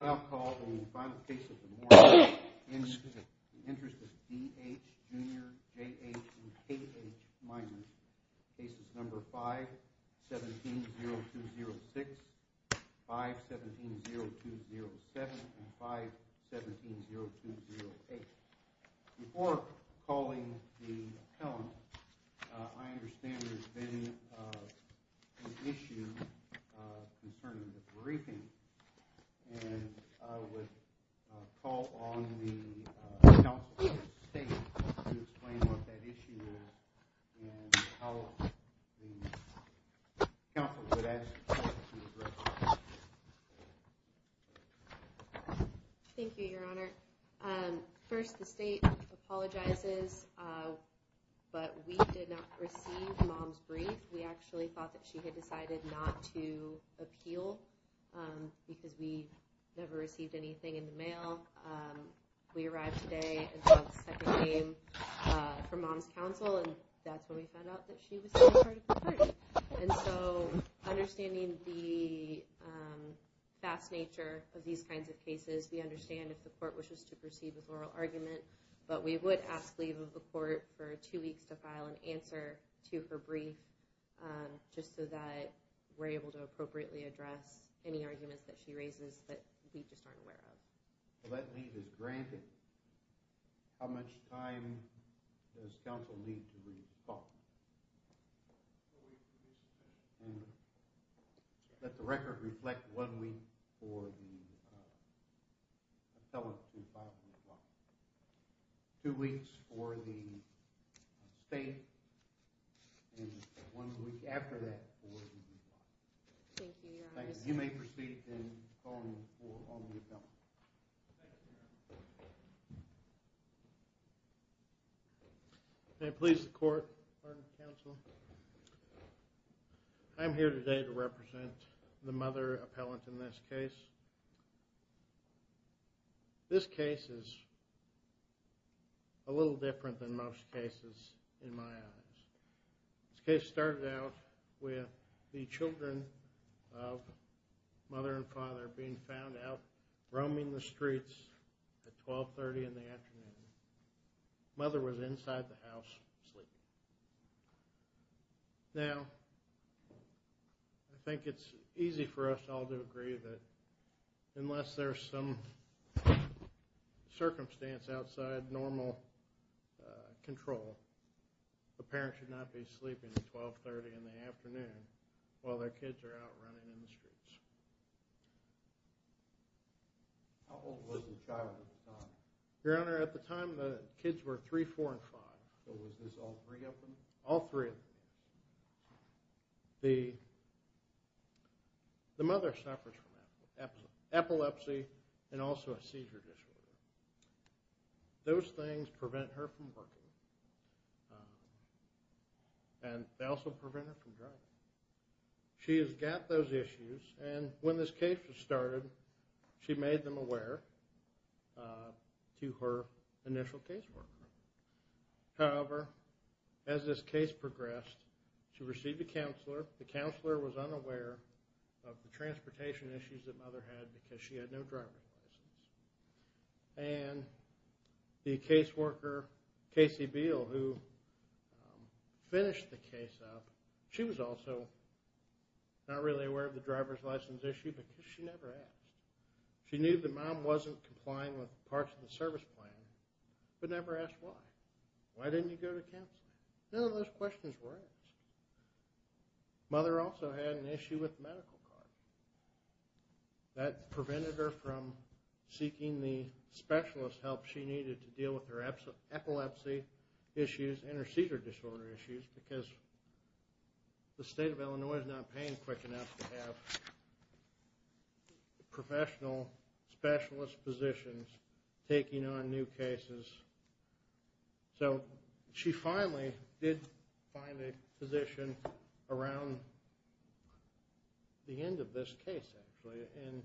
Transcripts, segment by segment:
I'll call on the final case of the morning in the interest of D.H., Jr., J.H., and K.H. Minors, cases No. 5, 17-0206, 5-17-0207, and 5-17-0208. Before calling the appellant, I understand there's been an issue concerning the briefing, and I would call on the counsel of the state to explain what that issue is and how the counsel would ask the court to address it. Thank you, Your Honor. First, the state apologizes, but we did not receive Mom's brief. We actually thought that she had decided not to appeal because we never received anything in the mail. We arrived today and saw the second name from Mom's counsel, and that's when we found out that she was still a part of the party. And so, understanding the vast nature of these kinds of cases, we understand if the court wishes to proceed with oral argument, but we would ask leave of the court for two weeks to file an answer to her brief just so that we're able to appropriately address any arguments that she raises that we just aren't aware of. If that leave is granted, how much time does counsel need to respond? Let the record reflect one week for the appellant to file a reply. Two weeks for the state, and one week after that for the reply. Thank you, Your Honor. Thank you. You may proceed and call on the appellant. May it please the court. Pardon, counsel. I'm here today to represent the mother appellant in this case. This case is a little different than most cases in my eyes. This case started out with the children of mother and father being found out roaming the streets at 1230 in the afternoon. Mother was inside the house sleeping. Now, I think it's easy for us all to agree that unless there's some circumstance outside normal control, a parent should not be sleeping at 1230 in the afternoon while their kids are out running in the streets. How old was the child at the time? Your Honor, at the time the kids were 3, 4, and 5. So was this all three of them? All three of them. The mother suffers from epilepsy and also a seizure disorder. Those things prevent her from working, and they also prevent her from driving. She has got those issues, and when this case was started, she made them aware to her initial caseworker. However, as this case progressed, she received a counselor. The counselor was unaware of the transportation issues that mother had because she had no driver's license. And the caseworker, Casey Beal, who finished the case up, she was also not really aware of the driver's license issue because she never asked. She knew that mom wasn't complying with parts of the service plan, but never asked why. Why didn't you go to counseling? None of those questions were asked. Mother also had an issue with the medical card. That prevented her from seeking the specialist help she needed to deal with her epilepsy issues and her seizure disorder issues because the state of Illinois is not paying quick enough to have professional specialist physicians taking on new cases. So she finally did find a physician around the end of this case, actually, in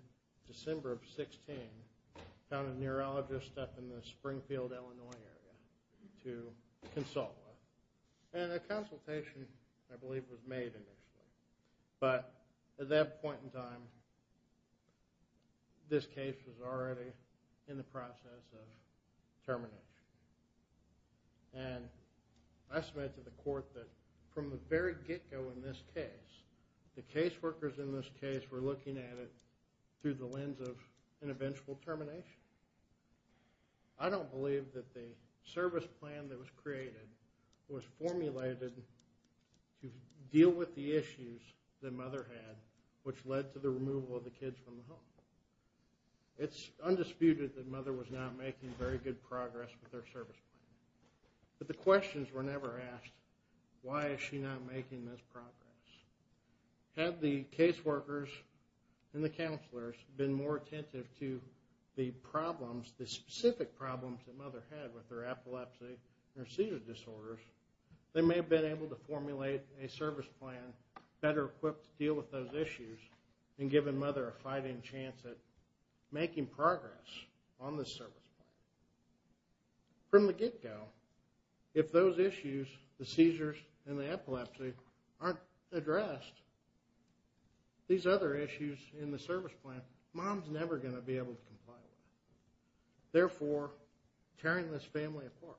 December of 16, found a neurologist up in the Springfield, Illinois area to consult with. And a consultation, I believe, was made initially. But at that point in time, this case was already in the process of termination. And I said to the court that from the very get-go in this case, the caseworkers in this case were looking at it through the lens of an eventual termination. I don't believe that the service plan that was created was formulated to deal with the issues that mother had, which led to the removal of the kids from the home. It's undisputed that mother was not making very good progress with her service plan. But the questions were never asked, why is she not making this progress? Had the caseworkers and the counselors been more attentive to the problems, the specific problems that mother had with her epilepsy and her seizure disorders, they may have been able to formulate a service plan better equipped to deal with those issues and given mother a fighting chance at making progress on this service plan. From the get-go, if those issues, the seizures and the epilepsy, aren't addressed, these other issues in the service plan, mom's never going to be able to comply with. Therefore, tearing this family apart.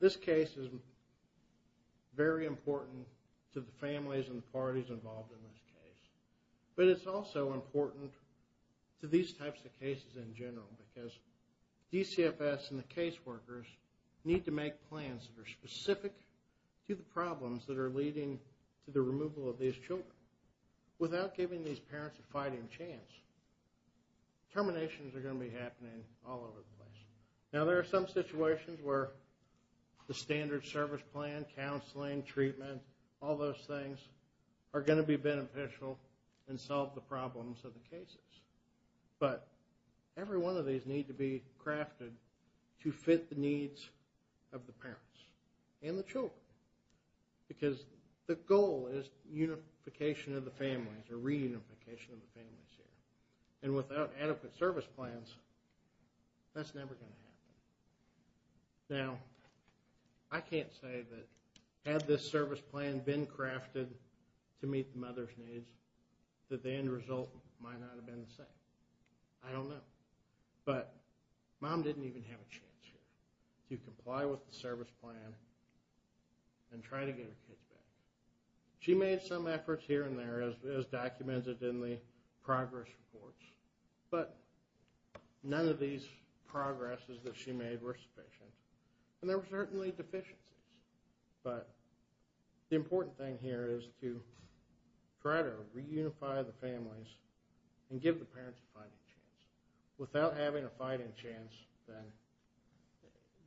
This case is very important to the families and the parties involved in this case. But it's also important to these types of cases in general because DCFS and the caseworkers need to make plans that are specific to the problems that are leading to the removal of these children. Without giving these parents a fighting chance, terminations are going to be happening all over the place. Now there are some situations where the standard service plan, counseling, treatment, all those things are going to be beneficial and solve the problems of the cases. But every one of these need to be crafted to fit the needs of the parents and the children. Because the goal is unification of the families or reunification of the families here. And without adequate service plans, that's never going to happen. Now, I can't say that had this service plan been crafted to meet the mother's needs, that the end result might not have been the same. I don't know. But mom didn't even have a chance here to comply with the service plan and try to get her kids back. She made some efforts here and there as documented in the progress reports. But none of these progresses that she made were sufficient. And there were certainly deficiencies. But the important thing here is to try to reunify the families and give the parents a fighting chance. Without having a fighting chance, then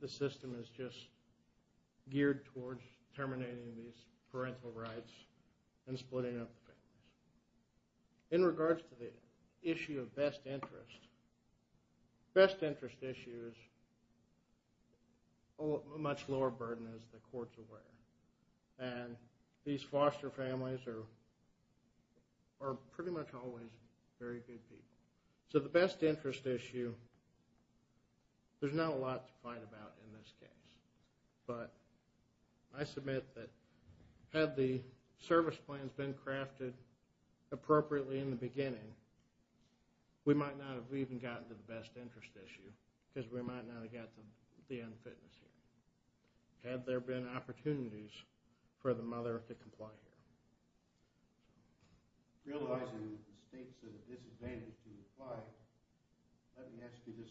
the system is just geared towards terminating these parental rights and splitting up the families. In regards to the issue of best interest, the best interest issue is a much lower burden, as the courts are aware. And these foster families are pretty much always very good people. So the best interest issue, there's not a lot to fight about in this case. But I submit that had the service plans been crafted appropriately in the beginning, we might not have even gotten to the best interest issue, because we might not have gotten to the unfitness here, had there been opportunities for the mother to comply here. Realizing the state's disadvantage to comply, let me ask you this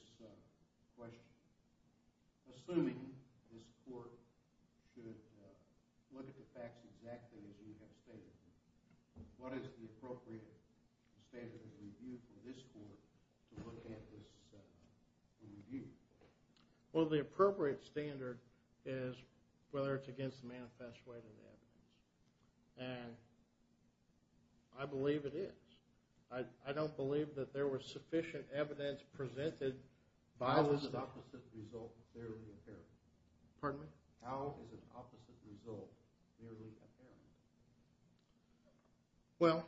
question. Assuming this court should look at the facts exactly as you have stated, what is the appropriate standard of review for this court to look at this review? Well, the appropriate standard is whether it's against the manifest way of the evidence. And I believe it is. I don't believe that there was sufficient evidence presented by the… How is an opposite result nearly apparent? Well,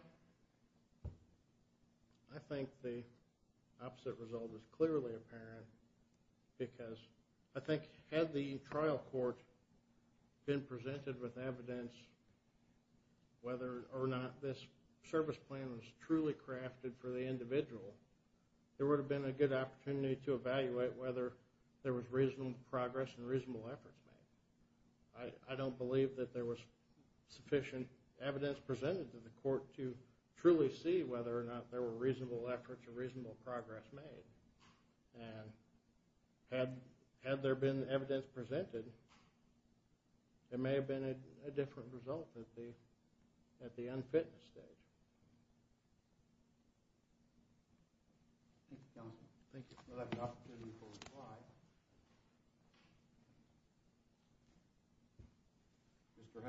I think the opposite result is clearly apparent, because I think had the trial court been presented with evidence whether or not this service plan was truly crafted for the individual, there would have been a good opportunity to evaluate whether there was reasonable progress and reasonable efforts made. I don't believe that there was sufficient evidence presented to the court to truly see whether or not there were reasonable efforts or reasonable progress made. And had there been evidence presented, there may have been a different result at the unfitness stage. Thank you, counsel. Thank you. We'll have an opportunity for reply. Mr.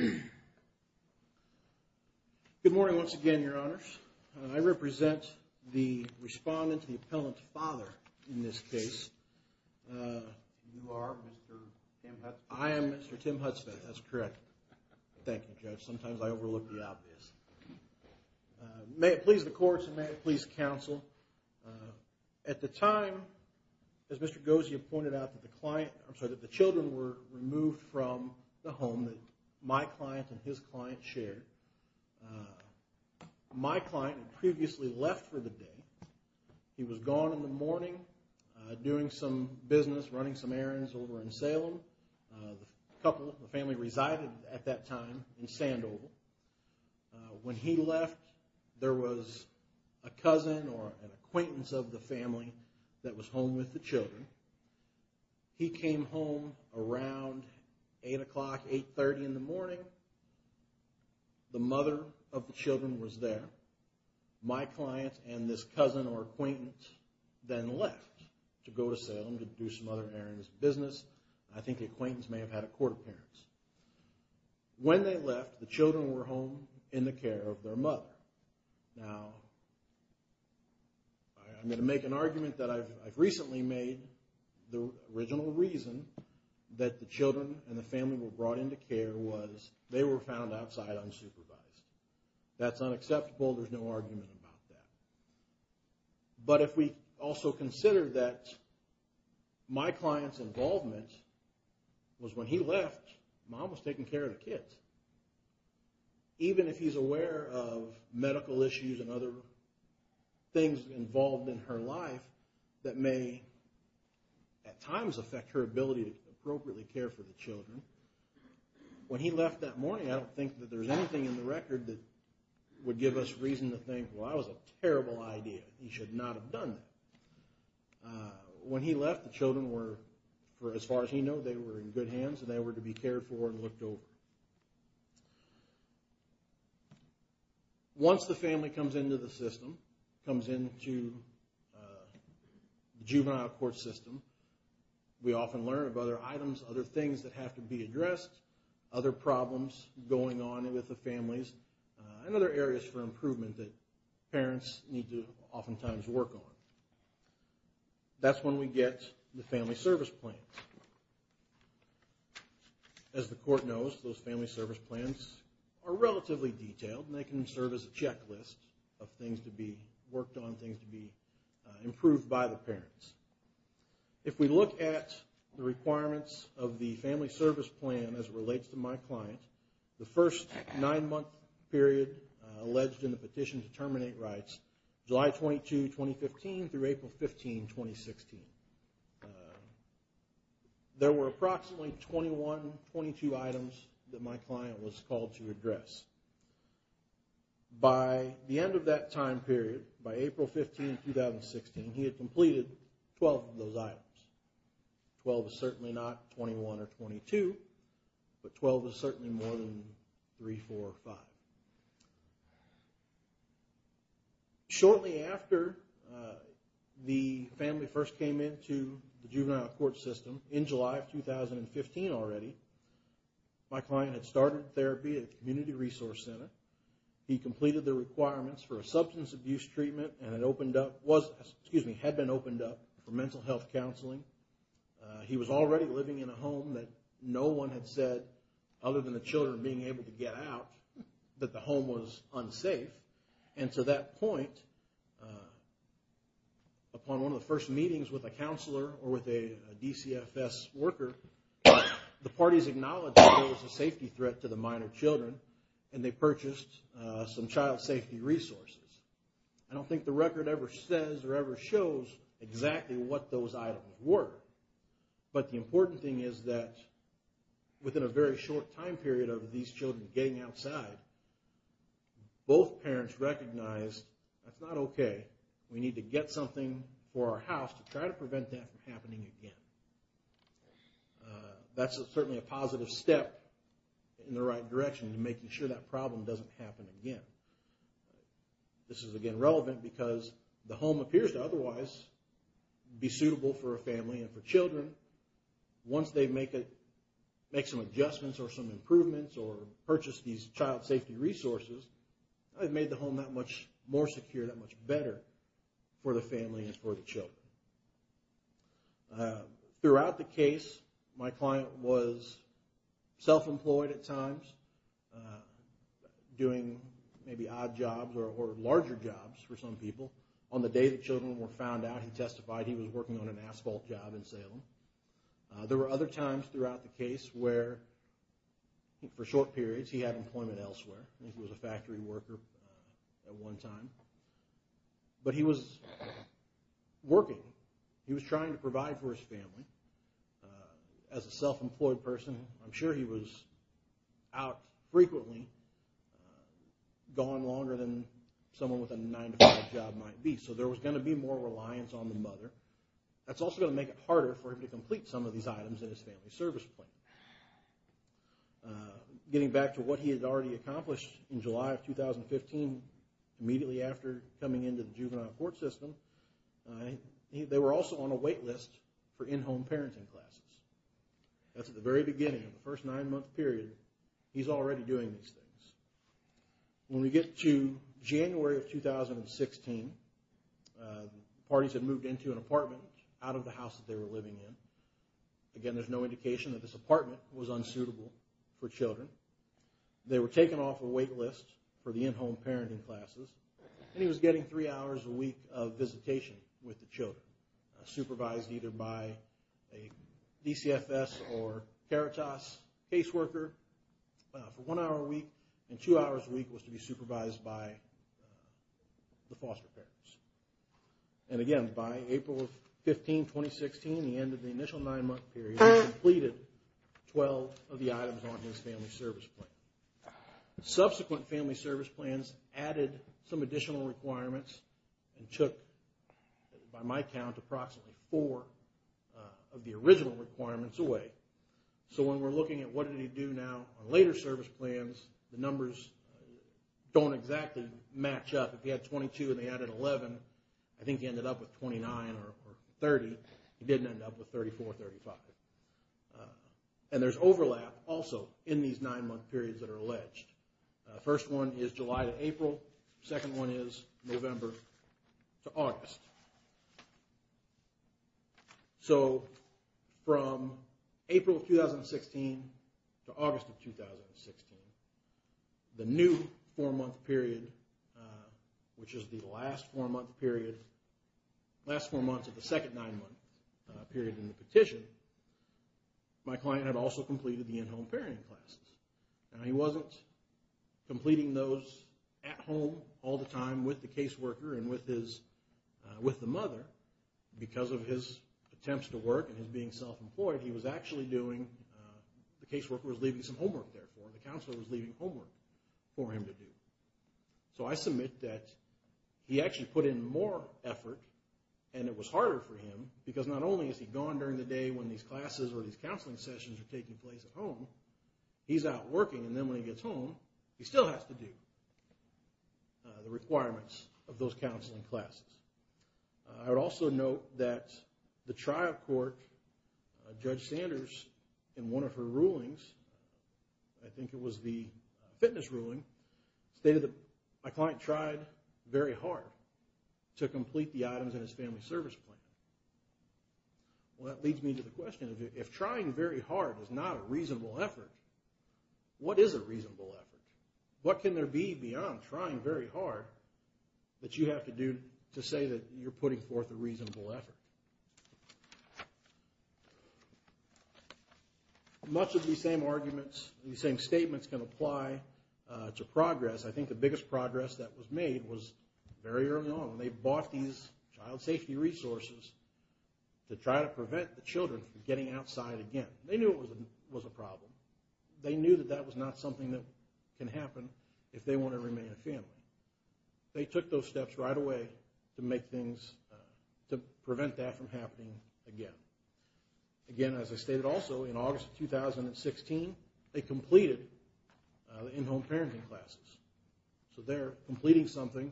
Hudson? Good morning once again, Your Honors. I represent the respondent, the appellant's father in this case. You are Mr. Tim Hudson? I am Mr. Tim Hudson. That's correct. Thank you, Judge. Sometimes I overlook the obvious. May it please the courts and may it please counsel, at the time, as Mr. Gozia pointed out, that the children were removed from the home that my client and his client shared. My client had previously left for the day. He was gone in the morning doing some business, running some errands over in Salem. The family resided at that time in Sandoval. When he left, there was a cousin or an acquaintance of the family that was home with the children. He came home around 8 o'clock, 8.30 in the morning. The mother of the children was there. My client and this cousin or acquaintance then left to go to Salem to do some other errands and business. I think the acquaintance may have had a court appearance. When they left, the children were home in the care of their mother. Now, I'm going to make an argument that I've recently made. The original reason that the children and the family were brought into care was they were found outside unsupervised. That's unacceptable. There's no argument about that. But if we also consider that my client's involvement was when he left, Mom was taking care of the kids. Even if he's aware of medical issues and other things involved in her life that may, at times, affect her ability to appropriately care for the children, when he left that morning, I don't think that there's anything in the record that would give us reason to think, well, that was a terrible idea. He should not have done that. When he left, the children were, as far as he knew, they were in good hands and they were to be cared for and looked over. Once the family comes into the system, comes into the juvenile court system, we often learn of other items, other things that have to be addressed, other problems going on with the families, and other areas for improvement that parents need to oftentimes work on. That's when we get the family service plans. As the court knows, those family service plans are relatively detailed and they can serve as a checklist of things to be worked on, things to be improved by the parents. If we look at the requirements of the family service plan as it relates to my client, the first nine-month period alleged in the petition to terminate rights, July 22, 2015 through April 15, 2016, there were approximately 21, 22 items that my client was called to address. By the end of that time period, by April 15, 2016, he had completed 12 of those items. Twelve is certainly not 21 or 22, but 12 is certainly more than 3, 4, or 5. Shortly after the family first came into the juvenile court system, in July of 2015 already, my client had started therapy at the Community Resource Center. He completed the requirements for a substance abuse treatment and had been opened up for mental health counseling. He was already living in a home that no one had said, other than the children being able to get out, that the home was unsafe. And to that point, upon one of the first meetings with a counselor or with a DCFS worker, the parties acknowledged that there was a safety threat to the minor children, and they purchased some child safety resources. I don't think the record ever says or ever shows exactly what those items were. But the important thing is that within a very short time period of these children getting outside, both parents recognized, that's not okay, we need to get something for our house to try to prevent that from happening again. That's certainly a positive step in the right direction to making sure that problem doesn't happen again. This is, again, relevant because the home appears to otherwise be suitable for a family and for children. Once they make some adjustments or some improvements or purchase these child safety resources, it made the home that much more secure, that much better for the family and for the children. Throughout the case, my client was self-employed at times, doing maybe odd jobs or larger jobs for some people. On the day the children were found out, he testified he was working on an asphalt job in Salem. There were other times throughout the case where, for short periods, he had employment elsewhere. I think he was a factory worker at one time. But he was working. He was trying to provide for his family. As a self-employed person, I'm sure he was out frequently, going longer than someone with a nine-to-five job might be. So there was going to be more reliance on the mother. That's also going to make it harder for him to complete some of these items in his family service plan. Getting back to what he had already accomplished in July of 2015, immediately after coming into the juvenile court system, they were also on a wait list for in-home parenting classes. That's at the very beginning of the first nine-month period. He's already doing these things. When we get to January of 2016, the parties had moved into an apartment out of the house that they were living in. Again, there's no indication that this apartment was unsuitable for children. They were taken off a wait list for the in-home parenting classes. And he was getting three hours a week of visitation with the children, supervised either by a DCFS or CARITAS caseworker for one hour a week. And two hours a week was to be supervised by the foster parents. And again, by April 15, 2016, the end of the initial nine-month period, he completed 12 of the items on his family service plan. Subsequent family service plans added some additional requirements and took, by my count, approximately four of the original requirements away. So when we're looking at what did he do now on later service plans, the numbers don't exactly match up. He had 22 and they added 11. I think he ended up with 29 or 30. He didn't end up with 34 or 35. And there's overlap also in these nine-month periods that are alleged. The first one is July to April. The second one is November to August. So from April of 2016 to August of 2016, the new four-month period, which is the last four-month period, last four months of the second nine-month period in the petition, my client had also completed the in-home parenting classes. Now he wasn't completing those at home all the time with the caseworker and with the mother because of his attempts to work and his being self-employed. He was actually doing, the caseworker was leaving some homework there for him. The counselor was leaving homework for him to do. So I submit that he actually put in more effort and it was harder for him because not only is he gone during the day when these classes or these counseling sessions are taking place at home, he's out working and then when he gets home, he still has to do the requirements of those counseling classes. I would also note that the trial court, Judge Sanders, in one of her rulings, I think it was the fitness ruling, stated that my client tried very hard to complete the items in his family service plan. Well, that leads me to the question, if trying very hard is not a reasonable effort, what is a reasonable effort? What can there be beyond trying very hard that you have to do to say that you're putting forth a reasonable effort? Much of these same arguments, these same statements can apply to progress. I think the biggest progress that was made was very early on when they bought these child safety resources to try to prevent the children from getting outside again. They knew it was a problem. They knew that that was not something that can happen if they want to remain a family. They took those steps right away to make things, to prevent that from happening again. Again, as I stated also, in August of 2016, they completed the in-home parenting classes. So they're completing something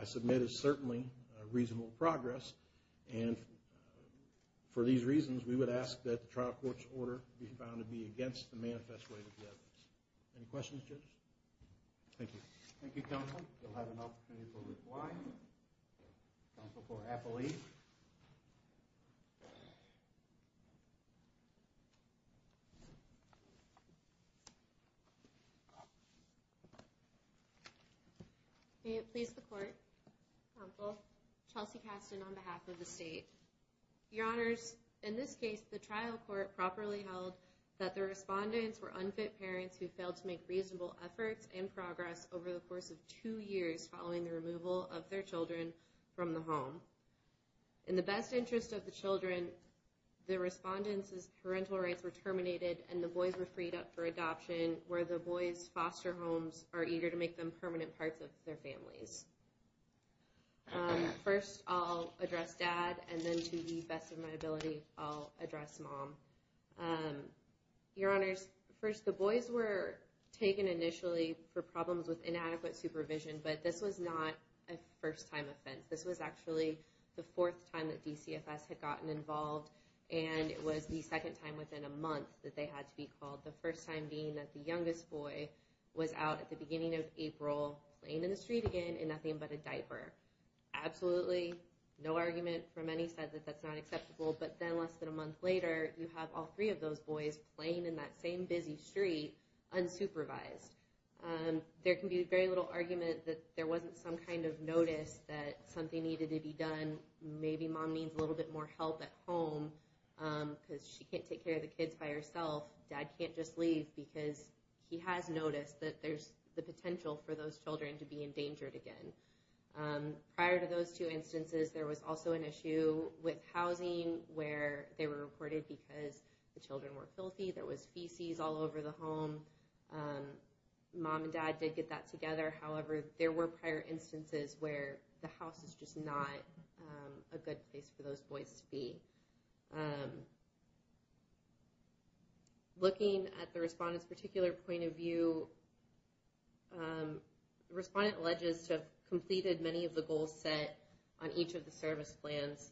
I submit is certainly a reasonable progress and for these reasons, we would ask that the trial court's order be found to be against the manifest way of the evidence. Any questions, Judge? Thank you. Thank you, Counsel. We'll have an opportunity for reply. Counsel for Appellee. May it please the Court. Counsel, Chelsea Kasten on behalf of the State. Your Honors, in this case, the trial court properly held that the respondents were unfit parents who failed to make reasonable efforts and progress over the course of two years following the removal of their children from the home. In the best interest of the children, the respondents' parental rights were terminated and the boys were freed up for adoption where the boys' foster homes are eager to make them permanent parts of their families. First, I'll address Dad, and then to the best of my ability, I'll address Mom. Your Honors, first, the boys were taken initially for problems with inadequate supervision, but this was not a first-time offense. This was actually the fourth time that DCFS had gotten involved, and it was the second time within a month that they had to be called, the first time being that the youngest boy was out at the beginning of April laying in the street again in nothing but a diaper. Absolutely, no argument from any side that that's not acceptable, but then less than a month later, you have all three of those boys playing in that same busy street unsupervised. There can be very little argument that there wasn't some kind of notice that something needed to be done. Maybe Mom needs a little bit more help at home because she can't take care of the kids by herself. Dad can't just leave because he has noticed that there's the potential for those children to be endangered again. Prior to those two instances, there was also an issue with housing where they were reported because the children were filthy. There was feces all over the home. Mom and Dad did get that together. However, there were prior instances where the house is just not a good place for those boys to be. Looking at the respondent's particular point of view, the respondent alleges to have completed many of the goals set on each of the service plans,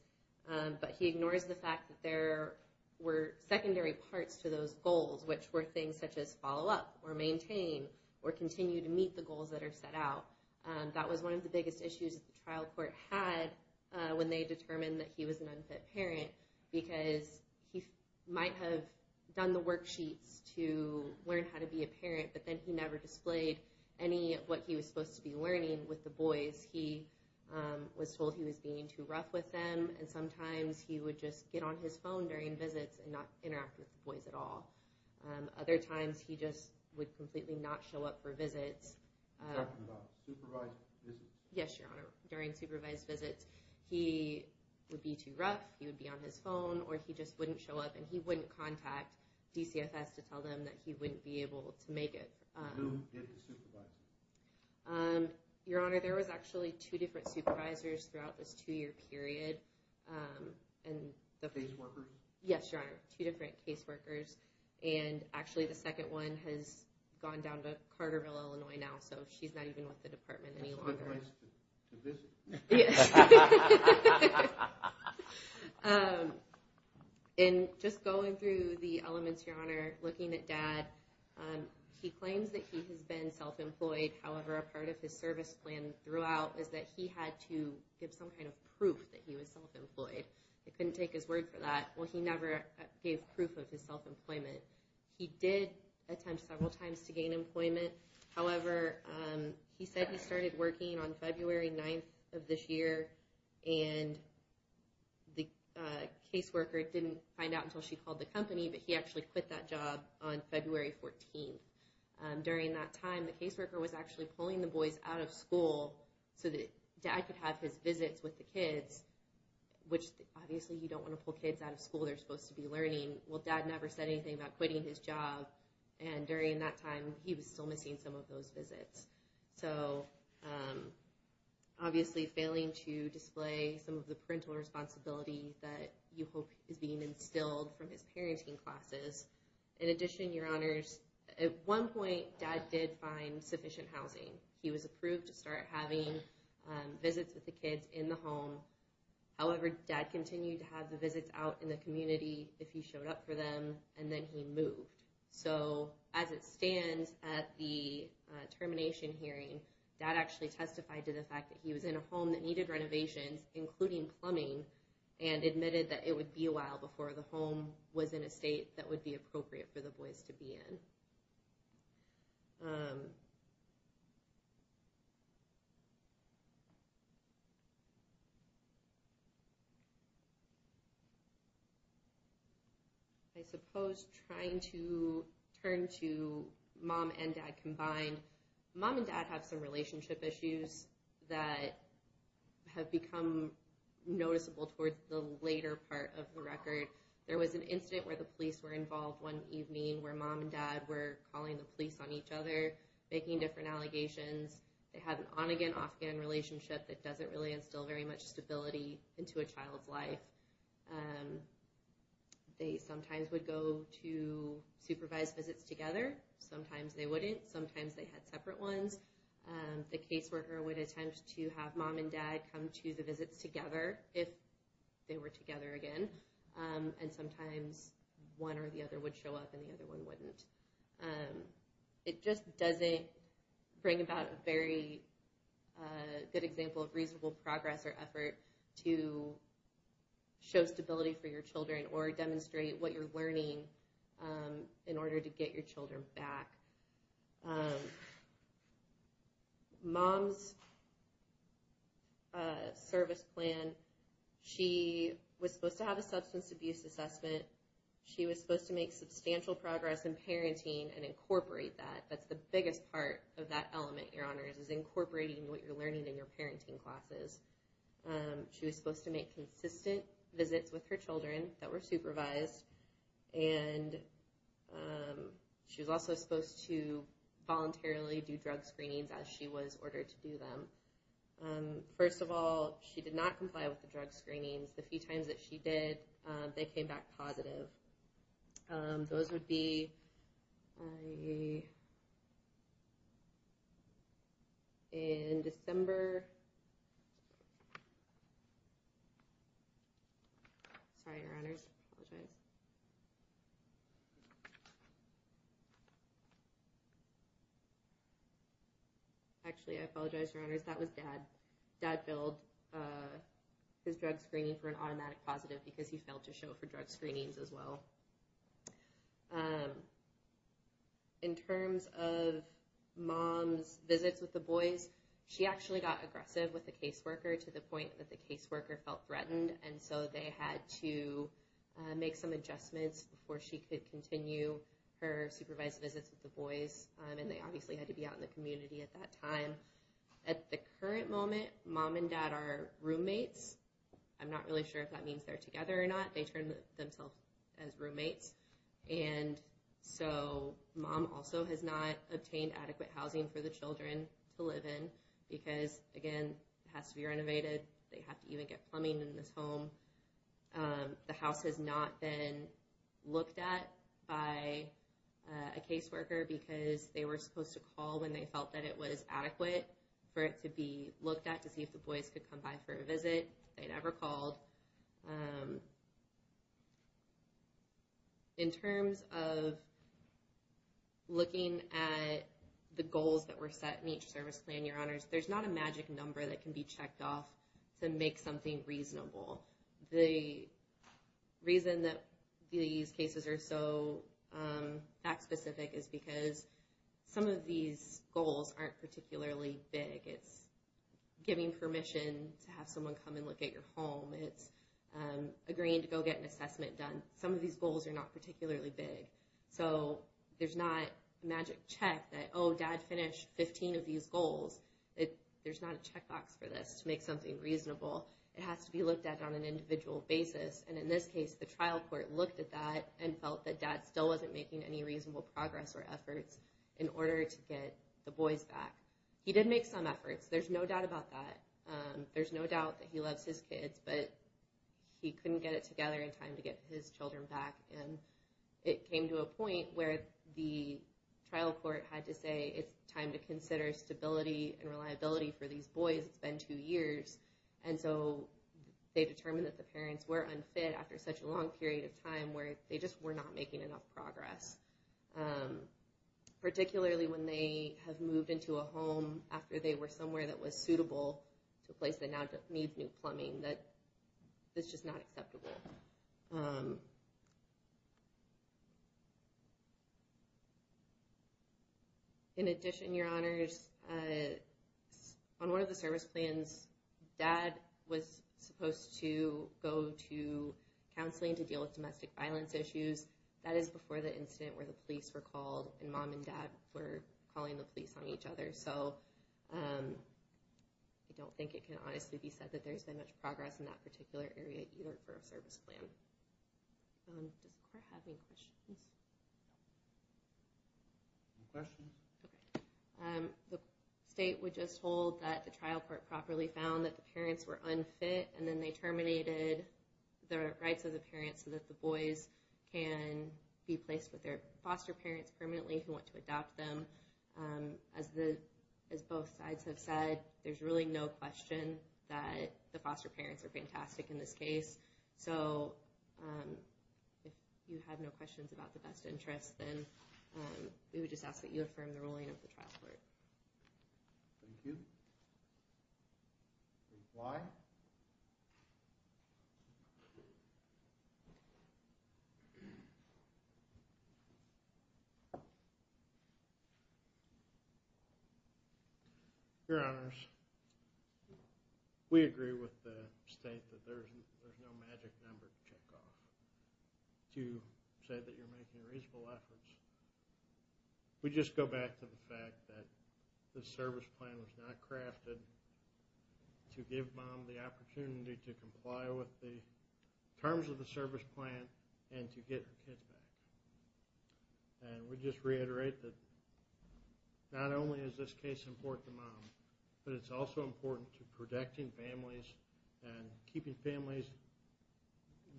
but he ignores the fact that there were secondary parts to those goals, which were things such as follow up or maintain or continue to meet the goals that are set out. That was one of the biggest issues that the trial court had when they determined that he was an unfit parent because he might have done the worksheets to learn how to be a parent, but then he never displayed any of what he was supposed to be learning with the boys. He was told he was being too rough with them, and sometimes he would just get on his phone during visits and not interact with the boys at all. Other times, he just would completely not show up for visits. During supervised visits, he would be too rough, he would be on his phone, or he just wouldn't show up, and he wouldn't contact DCFS to tell them that he wouldn't be able to make it. Who did the supervising? Your Honor, there was actually two different supervisors throughout this two-year period. Case workers? Yes, Your Honor, two different case workers. Actually, the second one has gone down to Carterville, Illinois now, so she's not even with the department any longer. That's a good place to visit. Just going through the elements, Your Honor, looking at Dad, he claims that he has been self-employed. However, a part of his service plan throughout is that he had to give some kind of proof that he was self-employed. I couldn't take his word for that. Well, he never gave proof of his self-employment. He did attempt several times to gain employment. However, he said he started working on February 9th of this year, and the case worker didn't find out until she called the company, but he actually quit that job on February 14th. During that time, the case worker was actually pulling the boys out of school so that Dad could have his visits with the kids, which, obviously, you don't want to pull kids out of school. They're supposed to be learning. Well, Dad never said anything about quitting his job, and during that time, he was still missing some of those visits. So, obviously, failing to display some of the parental responsibility that you hope is being instilled from his parenting classes. In addition, Your Honors, at one point, Dad did find sufficient housing. He was approved to start having visits with the kids in the home. However, Dad continued to have the visits out in the community if he showed up for them, and then he moved. So, as it stands at the termination hearing, Dad actually testified to the fact that he was in a home that needed renovations, including plumbing, and admitted that it would be a while before the home was in a state that would be appropriate for the boys to be in. I suppose trying to turn to Mom and Dad combined, Mom and Dad have some relationship issues that have become noticeable towards the later part of the record. There was an incident where the police were involved one evening where Mom and Dad were calling the police on each other, making different allegations. They had an on-again, off-again relationship that doesn't really instill very much stability into a child's life. They sometimes would go to supervised visits together. Sometimes they wouldn't. Sometimes they had separate ones. The caseworker would attempt to have Mom and Dad come to the visits together if they were together again, and sometimes one or the other would show up and the other one wouldn't. It just doesn't bring about a very good example of reasonable progress or effort to show stability for your children or demonstrate what you're learning in order to get your children back. Mom's service plan, she was supposed to have a substance abuse assessment. She was supposed to make substantial progress in parenting and incorporate that. That's the biggest part of that element, Your Honors, is incorporating what you're learning in your parenting classes. She was supposed to make consistent visits with her children that were supervised. She was also supposed to voluntarily do drug screenings as she was ordered to do them. First of all, she did not comply with the drug screenings. The few times that she did, they came back positive. Those would be in December... Sorry, Your Honors, I apologize. Actually, I apologize, Your Honors, that was Dad. Dad billed his drug screening for an automatic positive because he failed to show for drug screenings as well. In terms of Mom's visits with the boys, she actually got aggressive with the caseworker to the point that the caseworker felt threatened, and so they had to make some adjustments before she could continue her supervised visits with the boys. They obviously had to be out in the community at that time. At the current moment, Mom and Dad are roommates. I'm not really sure if that means they're together or not. They term themselves as roommates. Mom also has not obtained adequate housing for the children to live in because, again, it has to be renovated. They have to even get plumbing in this home. The house has not been looked at by a caseworker because they were supposed to call when they felt that it was adequate for it to be looked at to see if the boys could come by for a visit. They never called. In terms of looking at the goals that were set in each service plan, there's not a magic number that can be checked off to make something reasonable. The reason that these cases are so fact-specific is because some of these goals aren't particularly big. It's giving permission to have someone come and look at your home. It's agreeing to go get an assessment done. Some of these goals are not particularly big. There's not a magic check that, oh, Dad finished 15 of these goals. There's not a checkbox for this to make something reasonable. It has to be looked at on an individual basis. In this case, the trial court looked at that and felt that Dad still wasn't making any reasonable progress or efforts in order to get the boys back. He did make some efforts. There's no doubt about that. There's no doubt that he loves his kids, but he couldn't get it together in time to get his children back. It came to a point where the trial court had to say, it's time to consider stability and reliability for these boys. It's been two years. They determined that the parents were unfit after such a long period of time where they just were not making enough progress, particularly when they have moved into a home after they were somewhere that was suitable, a place that now doesn't need new plumbing. It's just not acceptable. In addition, Your Honors, on one of the service plans, Dad was supposed to go to counseling to deal with domestic violence issues. That is before the incident where the police were called and Mom and Dad were calling the police on each other. I don't think it can honestly be said that there's been much progress in that particular area either for a service plan. The state would just hold that the trial court properly found that the parents were unfit and then they terminated the rights of the parents so that the boys can be placed with their foster parents permanently who want to adopt them. As both sides have said, there's really no question that the foster parents are fantastic in this case. So, if you have no questions about the best interest, then we would just ask that you affirm the ruling of the trial court. Thank you. Why? Your Honors, we agree with the state that there's no magic number to check off. You said that you're making reasonable efforts. We just go back to the fact that the service plan was not crafted to give Mom the opportunity to comply with the terms of the service plan and to get her kids back. And we just reiterate that not only is this case important to Mom, but it's also important to protecting families and keeping families,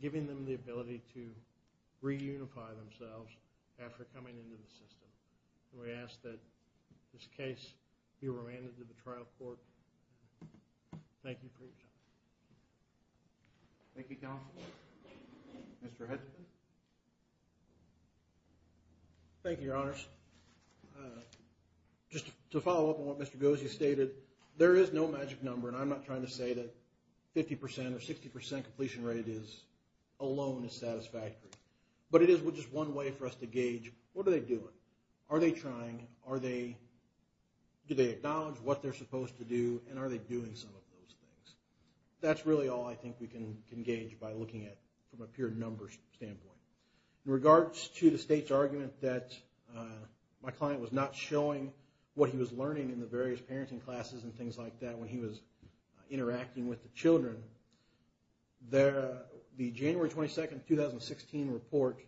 giving them the ability to reunify themselves after coming into the system. And we ask that this case be remanded to the trial court. Thank you for your time. Thank you, Counsel. Mr. Hedgeson. Thank you, Your Honors. Just to follow up on what Mr. Gozia stated, there is no magic number. And I'm not trying to say that 50% or 60% completion rate alone is satisfactory. But it is just one way for us to gauge what are they doing. Are they trying? Do they acknowledge what they're supposed to do? And are they doing some of those things? That's really all I think we can gauge by looking at it from a pure numbers standpoint. In regards to the state's argument that my client was not showing what he was learning in the various parenting classes and things like that when he was interacting with the children, the January 22, 2016 report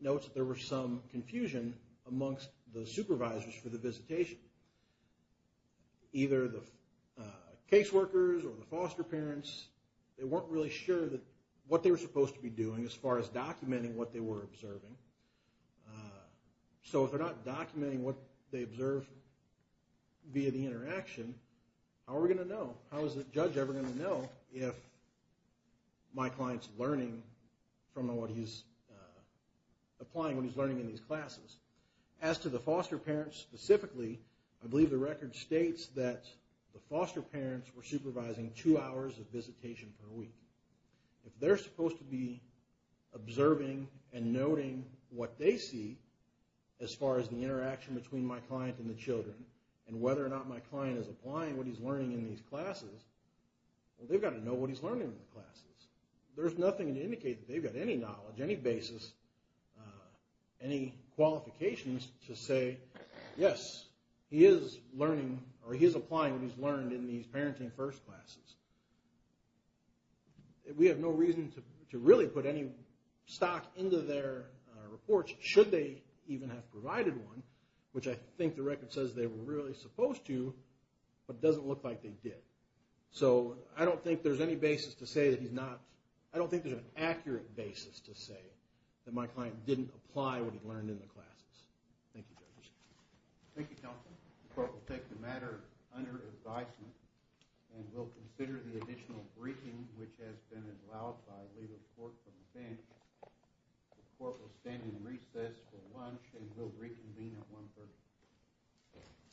notes that there was some confusion amongst the supervisors for the visitation. Either the caseworkers or the foster parents, they weren't really sure what they were supposed to be doing as far as documenting what they were observing. So if they're not documenting what they observed via the interaction, how are we going to know? How is the judge ever going to know if my client's learning from what he's applying, what he's learning in these classes? As to the foster parents specifically, I believe the record states that the foster parents were supervising two hours of visitation per week. If they're supposed to be observing and noting what they see as far as the interaction between my client and the children and whether or not my client is applying what he's learning in these classes, well, they've got to know what he's learning in the classes. There's nothing to indicate that they've got any knowledge, any basis, any qualifications to say, yes, he is learning or he is applying what he's learned in these parenting first classes. We have no reason to really put any stock into their reports should they even have provided one, which I think the record says they were really supposed to, but it doesn't look like they did. So I don't think there's any basis to say that he's not, I don't think there's an accurate basis to say that my client didn't apply what he learned in the classes. Thank you, judges. Thank you, counsel. The court will take the matter under advisement and will consider the additional briefing which has been allowed by the leader of the court from the bench. The court will stand in recess for lunch and will reconvene at 1 p.m.